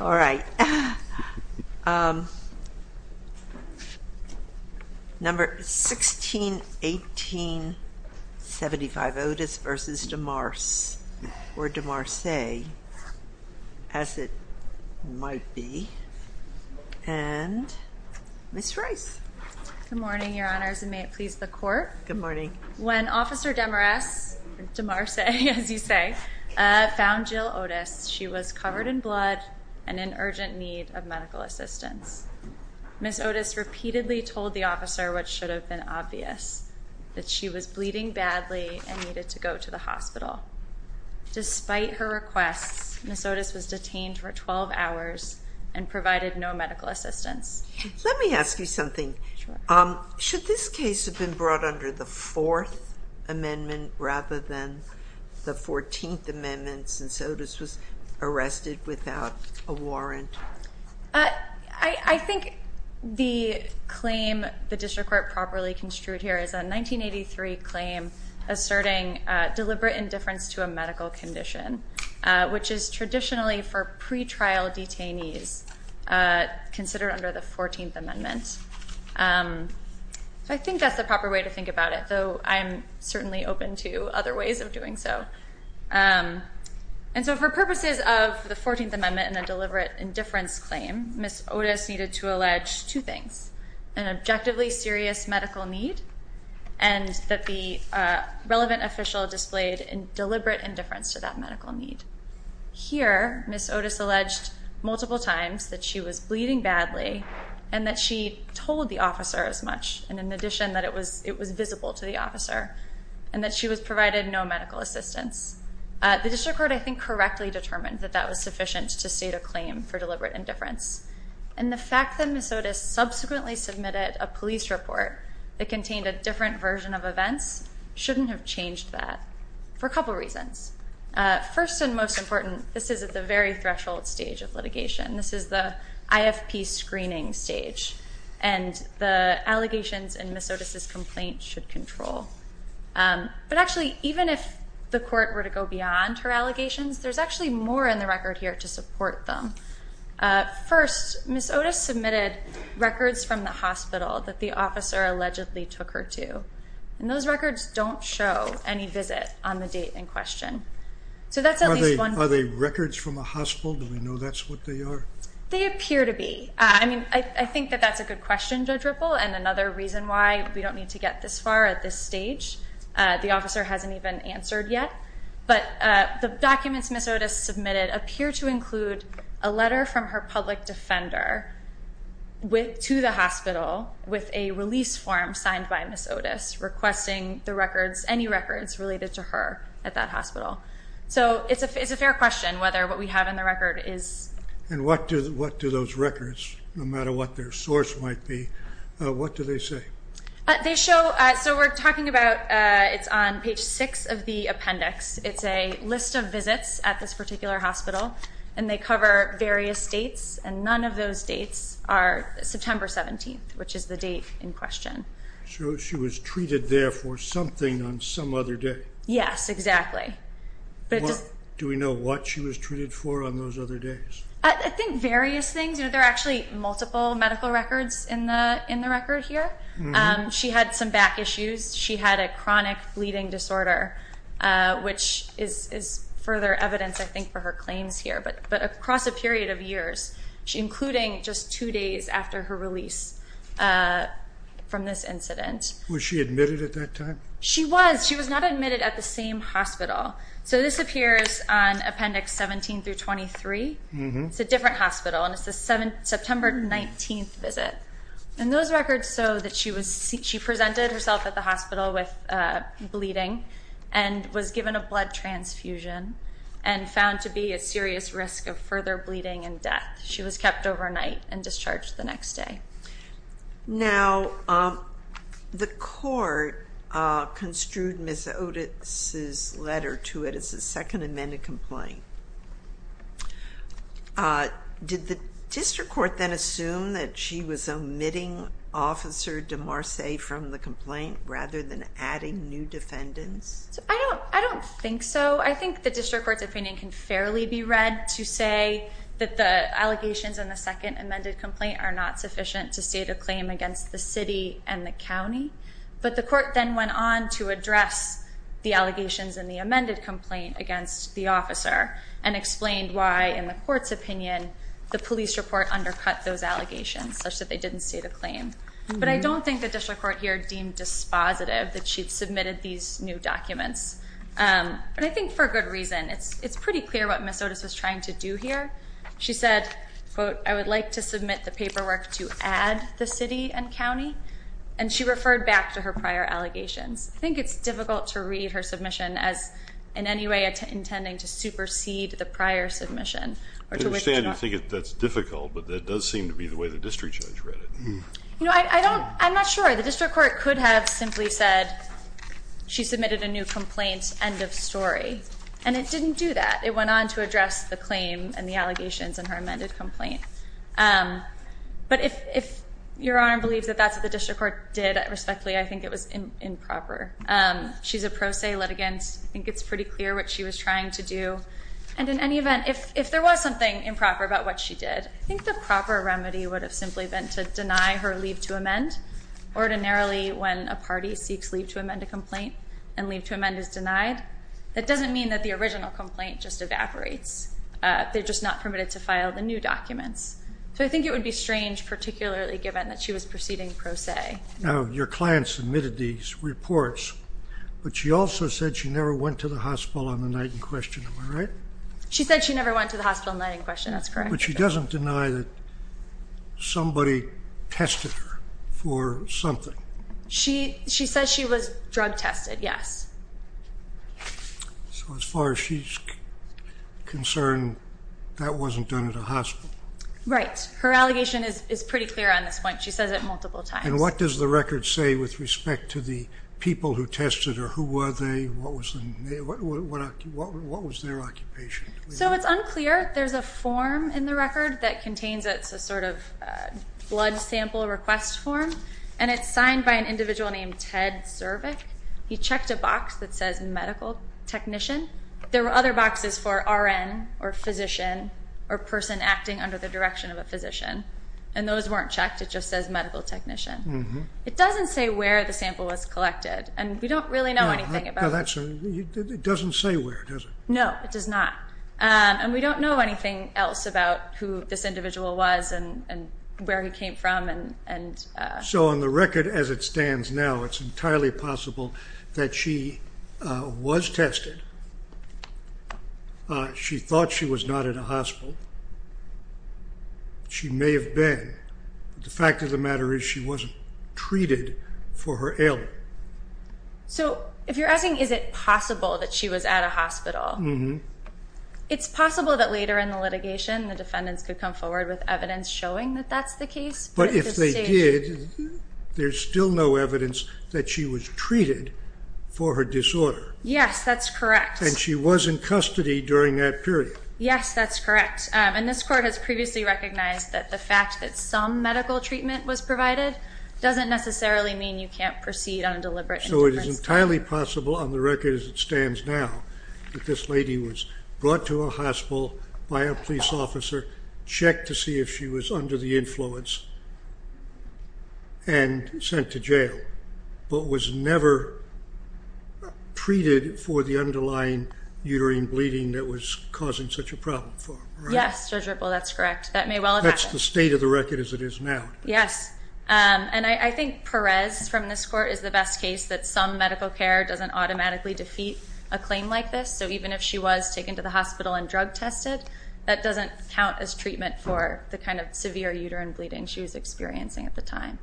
All right, number 161875 Otis v. Demarse or Demarse as it might be and Ms. Rice. Good morning your honors and may it please the court. Good morning. When Ms. Otis repeatedly told the officer what should have been obvious, that she was bleeding badly and needed to go to the hospital. Despite her requests, Ms. Otis was detained for 12 hours and provided no medical assistance. Let me ask you something. Should this case have been brought under the fourth amendment rather than the 14th amendment since Otis was arrested without a warrant? I think the claim the district court properly construed here is a 1983 claim asserting deliberate indifference to a medical condition, which is traditionally for pretrial detainees considered under the 14th amendment. I think that's the proper way to think about it, though I'm certainly open to other ways of doing so. And so for purposes of the 14th amendment and a deliberate indifference claim, Ms. Otis needed to allege two things. An objectively serious medical need and that the relevant official displayed in deliberate indifference to that medical need. Here, Ms. Otis alleged multiple times that she was bleeding badly and that she told the officer as much and in addition that it was visible to the officer and that she was provided no medical assistance. The district court I think correctly determined that that was sufficient to state a claim for deliberate indifference. And the fact that Ms. Otis subsequently submitted a police report that contained a different version of events shouldn't have changed that for a couple reasons. First and most important, this is at the very threshold stage of litigation. This is the IFP screening stage and the allegations in Ms. Otis's complaint should control. But actually, even if the court were to go beyond her allegations, there's actually more in the record here to support them. First, Ms. Otis submitted records from the hospital that the officer allegedly took her to. And those records don't show any visit on the date in question. So that's at least one thing. Are they records from a hospital? Do we know that's what they are? They appear to be. I mean, I think that that's a good question, Judge Ripple, and another reason why we don't need to get this far at this stage. The officer hasn't even answered yet. But the documents Ms. Otis submitted appear to include a letter from her public defender to the hospital with a release form signed by Ms. Otis, requesting the records, any records related to her at that hospital. So it's a fair question whether what we have in the record is. And what do those records, no matter what their source might be, what do they say? So we're talking about it's on page 6 of the appendix. It's a list of visits at this particular hospital, and they cover various dates, and none of those dates are September 17th, which is the date in question. So she was treated there for something on some other day. Yes, exactly. Do we know what she was treated for on those other days? I think various things. There are actually multiple medical records in the record here. She had some back issues. She had a chronic bleeding disorder, which is further evidence, I think, for her claims here. But across a period of years, including just two days after her release from this incident. Was she admitted at that time? She was. She was not admitted at the same hospital. So this appears on appendix 17 through 23. It's a different hospital, and it's a September 19th visit. And those records show that she presented herself at the hospital with bleeding and was given a blood transfusion and found to be a serious risk of further bleeding and death. She was kept overnight and discharged the next day. Now, the court construed Ms. Otis' letter to it as a second amended complaint. Did the district court then assume that she was omitting Officer DeMarce from the complaint rather than adding new defendants? I don't think so. I think the district court's opinion can fairly be read to say that the allegations in the second amended complaint are not sufficient to state a claim against the city and the county. But the court then went on to address the allegations in the amended complaint against the officer and explained why, in the court's opinion, the police report undercut those allegations, such that they didn't state a claim. But I don't think the district court here deemed dispositive that she'd submitted these new documents. But I think for good reason. It's pretty clear what Ms. Otis was trying to do here. She said, quote, I would like to submit the paperwork to add the city and county. And she referred back to her prior allegations. I think it's difficult to read her submission as in any way intending to supersede the prior submission. I understand you think that's difficult, but that does seem to be the way the district judge read it. I'm not sure. The district court could have simply said she submitted a new complaint, end of story. And it didn't do that. It went on to address the claim and the allegations in her amended complaint. But if Your Honor believes that that's what the district court did respectfully, I think it was improper. She's a pro se litigant. I think it's pretty clear what she was trying to do. And in any event, if there was something improper about what she did, I think the proper remedy would have simply been to deny her leave to amend. Ordinarily, when a party seeks leave to amend a complaint and leave to amend is denied, that doesn't mean that the original complaint just evaporates. They're just not permitted to file the new documents. So I think it would be strange, particularly given that she was proceeding pro se. Now, your client submitted these reports, but she also said she never went to the hospital on the night in question. Am I right? She said she never went to the hospital on the night in question. That's correct. But she doesn't deny that somebody tested her for something. She says she was drug tested, yes. So as far as she's concerned, that wasn't done at a hospital? Right. Her allegation is pretty clear on this point. She says it multiple times. And what does the record say with respect to the people who tested her? Who were they? What was their occupation? So it's unclear. There's a form in the record that contains it. It's a sort of blood sample request form. And it's signed by an individual named Ted Zervik. He checked a box that says medical technician. There were other boxes for RN or physician or person acting under the direction of a physician. And those weren't checked. It just says medical technician. It doesn't say where the sample was collected. And we don't really know anything about it. It doesn't say where, does it? No, it does not. And we don't know anything else about who this individual was and where he came from. So on the record as it stands now, it's entirely possible that she was tested. She thought she was not at a hospital. She may have been. The fact of the matter is she wasn't treated for her ailment. So if you're asking is it possible that she was at a hospital, it's possible that later in the litigation the defendants could come forward with evidence showing that that's the case. But if they did, there's still no evidence that she was treated for her disorder. Yes, that's correct. And she was in custody during that period. Yes, that's correct. And this court has previously recognized that the fact that some medical treatment was provided doesn't necessarily mean you can't proceed on a deliberate indifference. So it is entirely possible on the record as it stands now that this lady was brought to a hospital by a police officer, checked to see if she was under the influence, and sent to jail, but was never treated for the underlying uterine bleeding that was causing such a problem for her. Yes, Judge Ripple, that's correct. That may well have happened. That's the state of the record as it is now. Yes. And I think Perez from this court is the best case that some medical care doesn't automatically defeat a claim like this. So even if she was taken to the hospital and drug tested, that doesn't count as treatment for the kind of severe uterine bleeding she was experiencing at the time.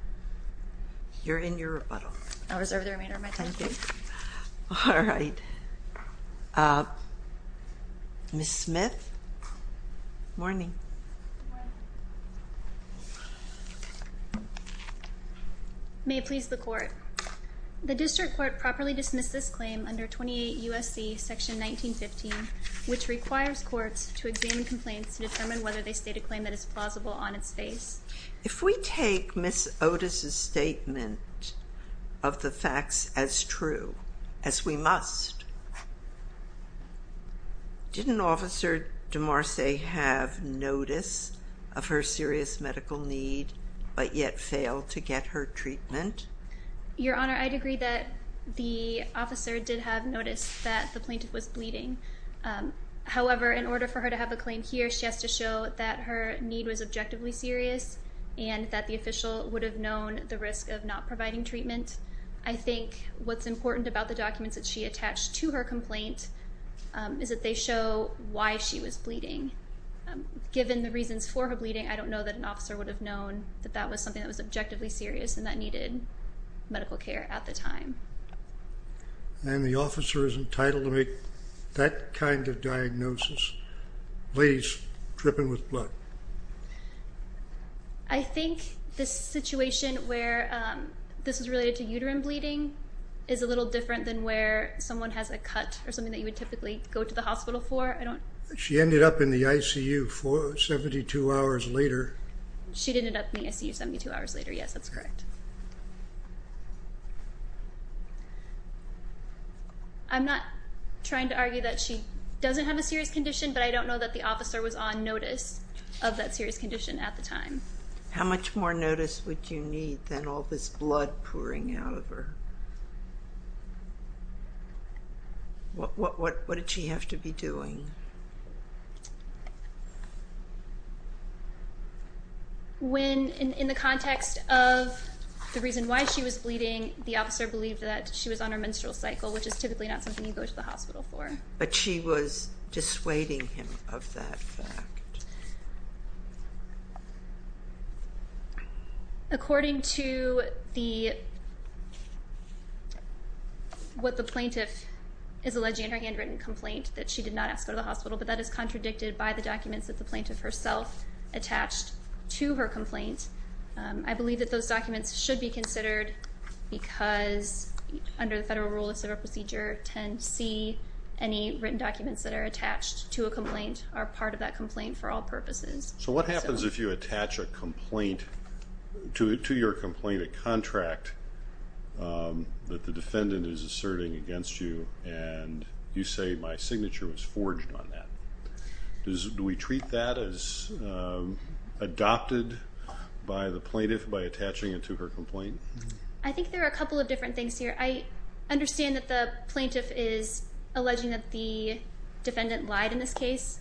You're in your rebuttal. I'll reserve the remainder of my time, please. All right. Ms. Smith? Good morning. Good morning. May it please the Court. The District Court properly dismissed this claim under 28 U.S.C. Section 1915, which requires courts to examine complaints to determine whether they state a claim that is plausible on its face. If we take Ms. Otis' statement of the facts as true, as we must, didn't Officer DeMarce have notice of her serious medical need but yet fail to get her treatment? Your Honor, I'd agree that the officer did have notice that the plaintiff was bleeding. However, in order for her to have a claim here, she has to show that her need was objectively serious and that the official would have known the risk of not providing treatment. I think what's important about the documents that she attached to her complaint is that they show why she was bleeding. Given the reasons for her bleeding, I don't know that an officer would have known that that was something that was objectively serious and that needed medical care at the time. And the officer is entitled to make that kind of diagnosis? Please, dripping with blood. I think this situation where this is related to uterine bleeding is a little different than where someone has a cut or something that you would typically go to the hospital for. She ended up in the ICU 72 hours later. She ended up in the ICU 72 hours later. Yes, that's correct. I'm not trying to argue that she doesn't have a serious condition, but I don't know that the officer was on notice of that serious condition at the time. How much more notice would you need than all this blood pouring out of her? When, in the context of the reason why she was bleeding, the officer believed that she was on her menstrual cycle, which is typically not something you go to the hospital for. But she was dissuading him of that fact. According to what the plaintiff is alleging in her handwritten complaint, that she did not ask to go to the hospital, but that is contradicted by the documents that the plaintiff herself attached to her complaint. I believe that those documents should be considered because, under the federal rule of civil procedure, 10C, any written documents that are attached to a complaint are part of that complaint for all purposes. So what happens if you attach a complaint to your complaint, a contract that the defendant is asserting against you, and you say, my signature was forged on that? Do we treat that as adopted by the plaintiff by attaching it to her complaint? I think there are a couple of different things here. I understand that the plaintiff is alleging that the defendant lied in this case,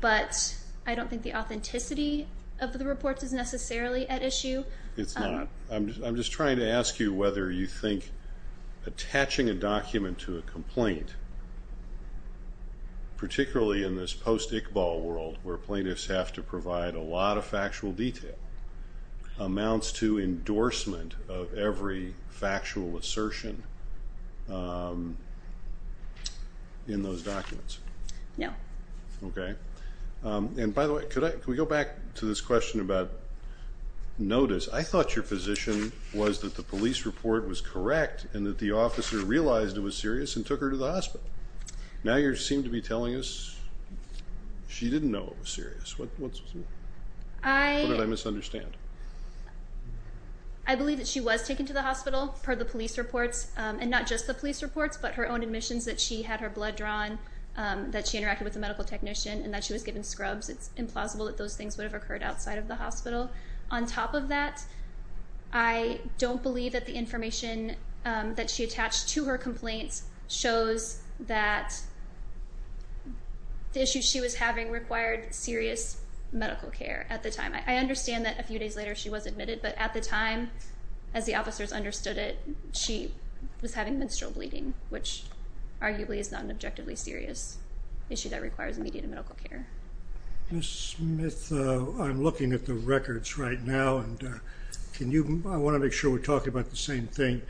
but I don't think the authenticity of the reports is necessarily at issue. It's not. I'm just trying to ask you whether you think attaching a document to a complaint, particularly in this post-Iqbal world where plaintiffs have to provide a lot of factual detail, amounts to endorsement of every factual assertion in those documents. No. Okay. And by the way, can we go back to this question about notice? I thought your position was that the police report was correct and that the officer realized it was serious and took her to the hospital. Now you seem to be telling us she didn't know it was serious. What did I misunderstand? I believe that she was taken to the hospital, per the police reports, and not just the police reports, but her own admissions that she had her blood drawn, that she interacted with a medical technician, and that she was given scrubs. It's implausible that those things would have occurred outside of the hospital. On top of that, I don't believe that the information that she attached to her complaints shows that the issue she was having required serious medical care at the time. I understand that a few days later she was admitted, but at the time, as the officers understood it, she was having menstrual bleeding, which arguably is not an objectively serious issue that requires immediate medical care. Ms. Smith, I'm looking at the records right now, and I want to make sure we're talking about the same thing,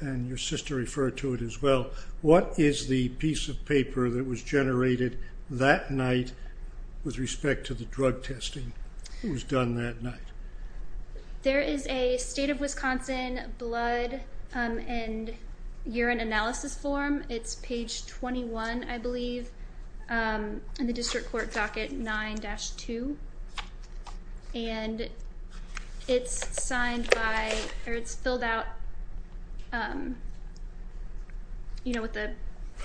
and your sister referred to it as well. What is the piece of paper that was generated that night with respect to the drug testing that was done that night? There is a state of Wisconsin blood and urine analysis form. It's page 21, I believe, in the district court docket 9-2, and it's signed by, or it's filled out, you know, with the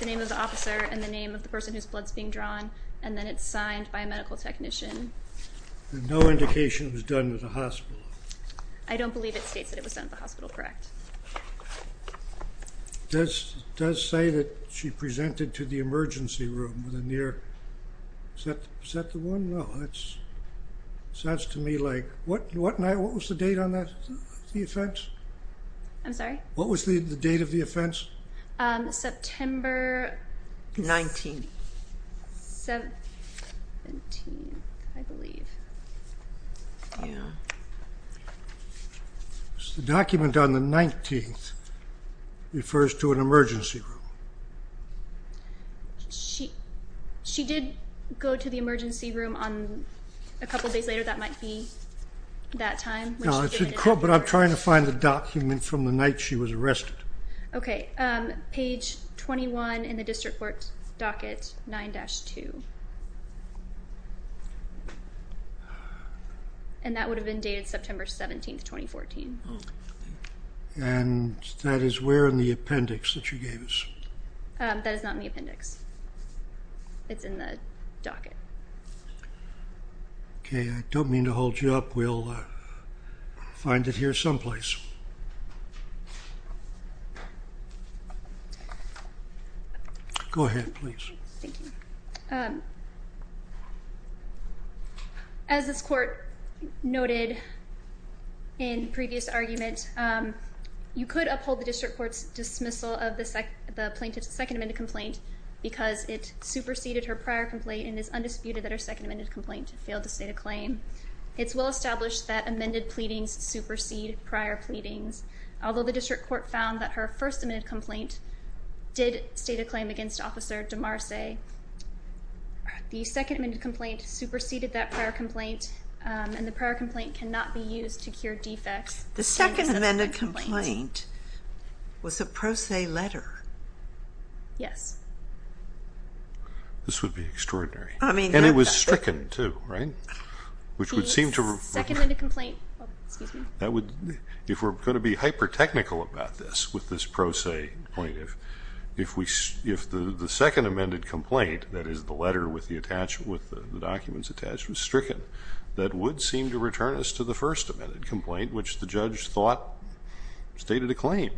name of the officer and the name of the person whose blood is being drawn, and then it's signed by a medical technician. And no indication it was done at the hospital? I don't believe it states that it was done at the hospital, correct. It does say that she presented to the emergency room with a near... Is that the one? No, that sounds to me like... What night, what was the date on that, the offense? I'm sorry? What was the date of the offense? September... 19. 17, I believe. Yeah. The document on the 19th refers to an emergency room. She did go to the emergency room a couple days later, that might be that time. No, but I'm trying to find the document from the night she was arrested. Okay, page 21 in the district court docket 9-2. And that would have been dated September 17, 2014. And that is where in the appendix that she gave us? That is not in the appendix. It's in the docket. Okay, I don't mean to hold you up, we'll find it here someplace. Go ahead, please. Thank you. As this court noted in previous argument, you could uphold the district court's dismissal of the plaintiff's second amended complaint because it superseded her prior complaint and it is undisputed that her second amended complaint failed to state a claim. It's well established that amended pleadings supersede prior pleadings. Although the district court found that her first amended complaint did state a claim against Officer DeMarce, the second amended complaint superseded that prior complaint and the prior complaint cannot be used to cure defects. The second amended complaint was a pro se letter. Yes. This would be extraordinary. And it was stricken too, right? Second amended complaint. If we're going to be hyper technical about this with this pro se plaintiff, if the second amended complaint, that is the letter with the documents attached, was stricken, that would seem to return us to the first amended complaint which the judge thought stated a claim.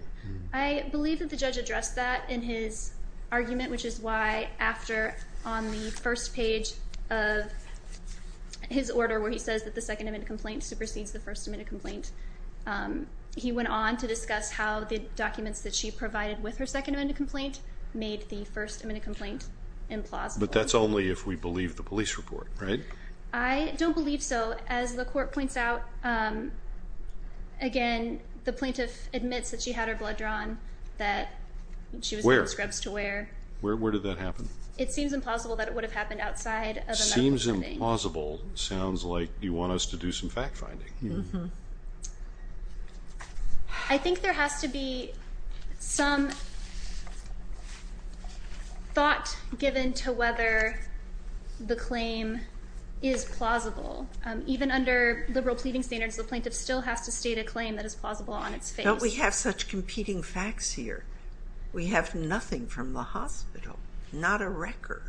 I believe that the judge addressed that in his argument, which is why after on the first page of his order where he says that the second amended complaint supersedes the first amended complaint, he went on to discuss how the documents that she provided with her second amended complaint made the first amended complaint implausible. But that's only if we believe the police report, right? I don't believe so. As the court points out, again, the plaintiff admits that she had her blood drawn, that she was wearing scrubs to wear. Where did that happen? It seems implausible that it would have happened outside of a medical setting. Seems implausible sounds like you want us to do some fact finding. I think there has to be some thought given to whether the claim is plausible. Even under liberal pleading standards, the plaintiff still has to state a claim that is plausible on its face. Don't we have such competing facts here? We have nothing from the hospital, not a record.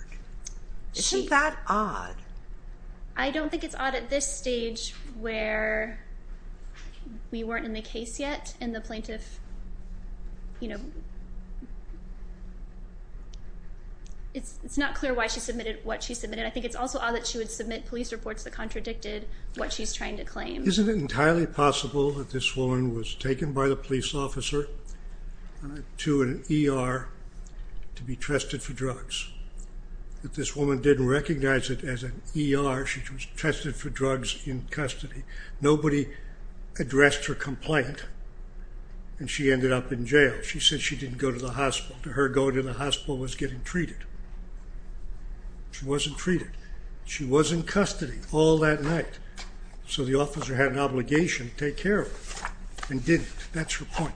Isn't that odd? I don't think it's odd at this stage where we weren't in the case yet and the plaintiff, you know, it's not clear why she submitted what she submitted. I think it's also odd that she would submit police reports that contradicted what she's trying to claim. Isn't it entirely possible that this woman was taken by the police officer to an ER to be trusted for drugs? If this woman didn't recognize it as an ER, she was trusted for drugs in custody. Nobody addressed her complaint, and she ended up in jail. She said she didn't go to the hospital. To her, going to the hospital was getting treated. She wasn't treated. She was in custody all that night. So the officer had an obligation to take care of her and didn't. That's her point.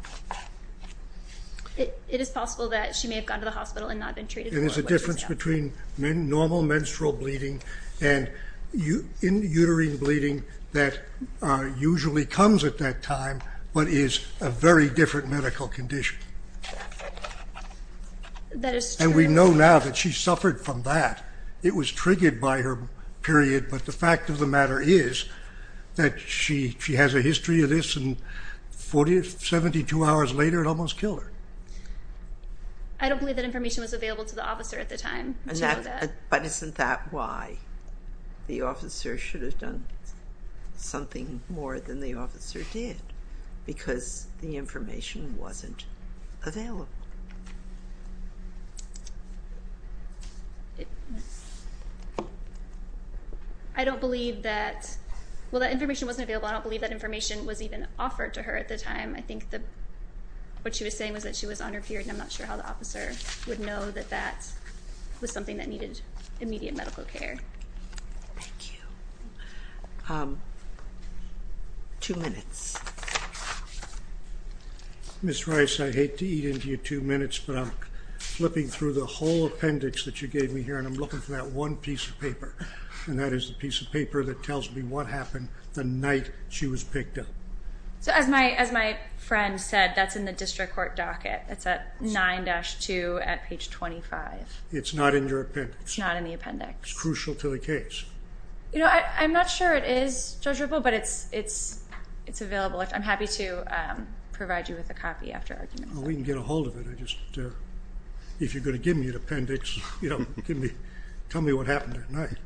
It is possible that she may have gone to the hospital and not been treated. And there's a difference between normal menstrual bleeding and uterine bleeding that usually comes at that time but is a very different medical condition. That is true. And we know now that she suffered from that. It was triggered by her period. But the fact of the matter is that she has a history of this, and 72 hours later it almost killed her. I don't believe that information was available to the officer at the time. But isn't that why the officer should have done something more than the officer did? Because the information wasn't available. I don't believe that information was even offered to her at the time. I think what she was saying was that she was on her period, and I'm not sure how the officer would know that that was something that needed immediate medical care. Thank you. Two minutes. Ms. Rice, I hate to eat into your two minutes, but I'm flipping through the whole appendix that you gave me here, and I'm looking for that one piece of paper, and that is the piece of paper that tells me what happened the night she was picked up. So as my friend said, that's in the district court docket. It's at 9-2 at page 25. It's not in your appendix. It's not in the appendix. It's crucial to the case. I'm not sure it is, Judge Ripple, but it's available. I'm happy to provide you with a copy after argument. We can get a hold of it. If you're going to give me an appendix, tell me what happened that night.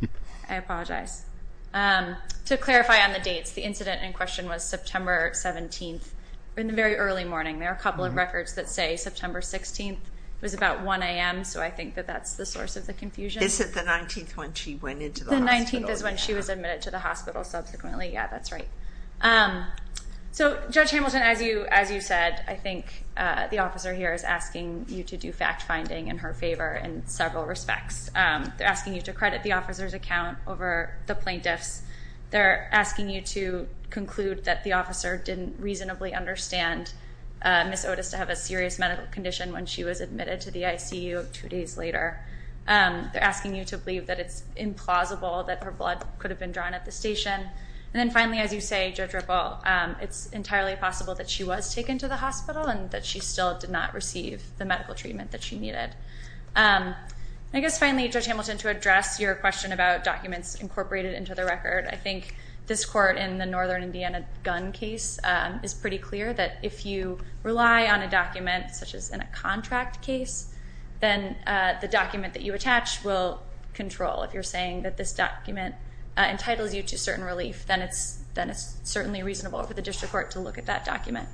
I apologize. To clarify on the dates, the incident in question was September 17th in the very early morning. There are a couple of records that say September 16th. It was about 1 a.m., so I think that that's the source of the confusion. Is it the 19th when she went into the hospital? The 19th is when she was admitted to the hospital subsequently. Yeah, that's right. So, Judge Hamilton, as you said, I think the officer here is asking you to do fact-finding in her favor in several respects. They're asking you to credit the officer's account over the plaintiff's. They're asking you to conclude that the officer didn't reasonably understand Ms. Otis to have a serious medical condition when she was admitted to the ICU two days later. They're asking you to believe that it's implausible that her blood could have been drawn at the station. And then, finally, as you say, Judge Ripple, it's entirely possible that she was taken to the hospital and that she still did not receive the medical treatment that she needed. I guess, finally, Judge Hamilton, to address your question about documents incorporated into the record, I think this court in the Northern Indiana gun case is pretty clear that if you rely on a document, such as in a contract case, then the document that you attach will control. If you're saying that this document entitles you to certain relief, then it's certainly reasonable for the district court to look at that document.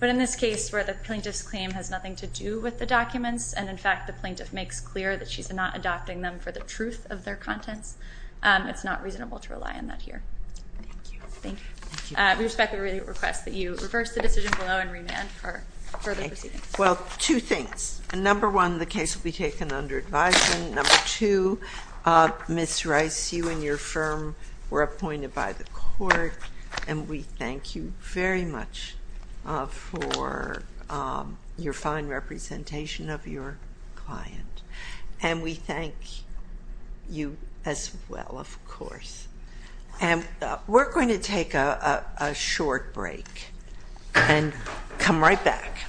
But in this case where the plaintiff's claim has nothing to do with the documents, and, in fact, the plaintiff makes clear that she's not adopting them for the truth of their contents, it's not reasonable to rely on that here. Thank you. We respectfully request that you reverse the decision below and remand for further proceedings. Well, two things. Number one, the case will be taken under advisement. Number two, Ms. Rice, you and your firm were appointed by the court, and we thank you very much for your fine representation of your client. And we thank you as well, of course. And we're going to take a short break and come right back.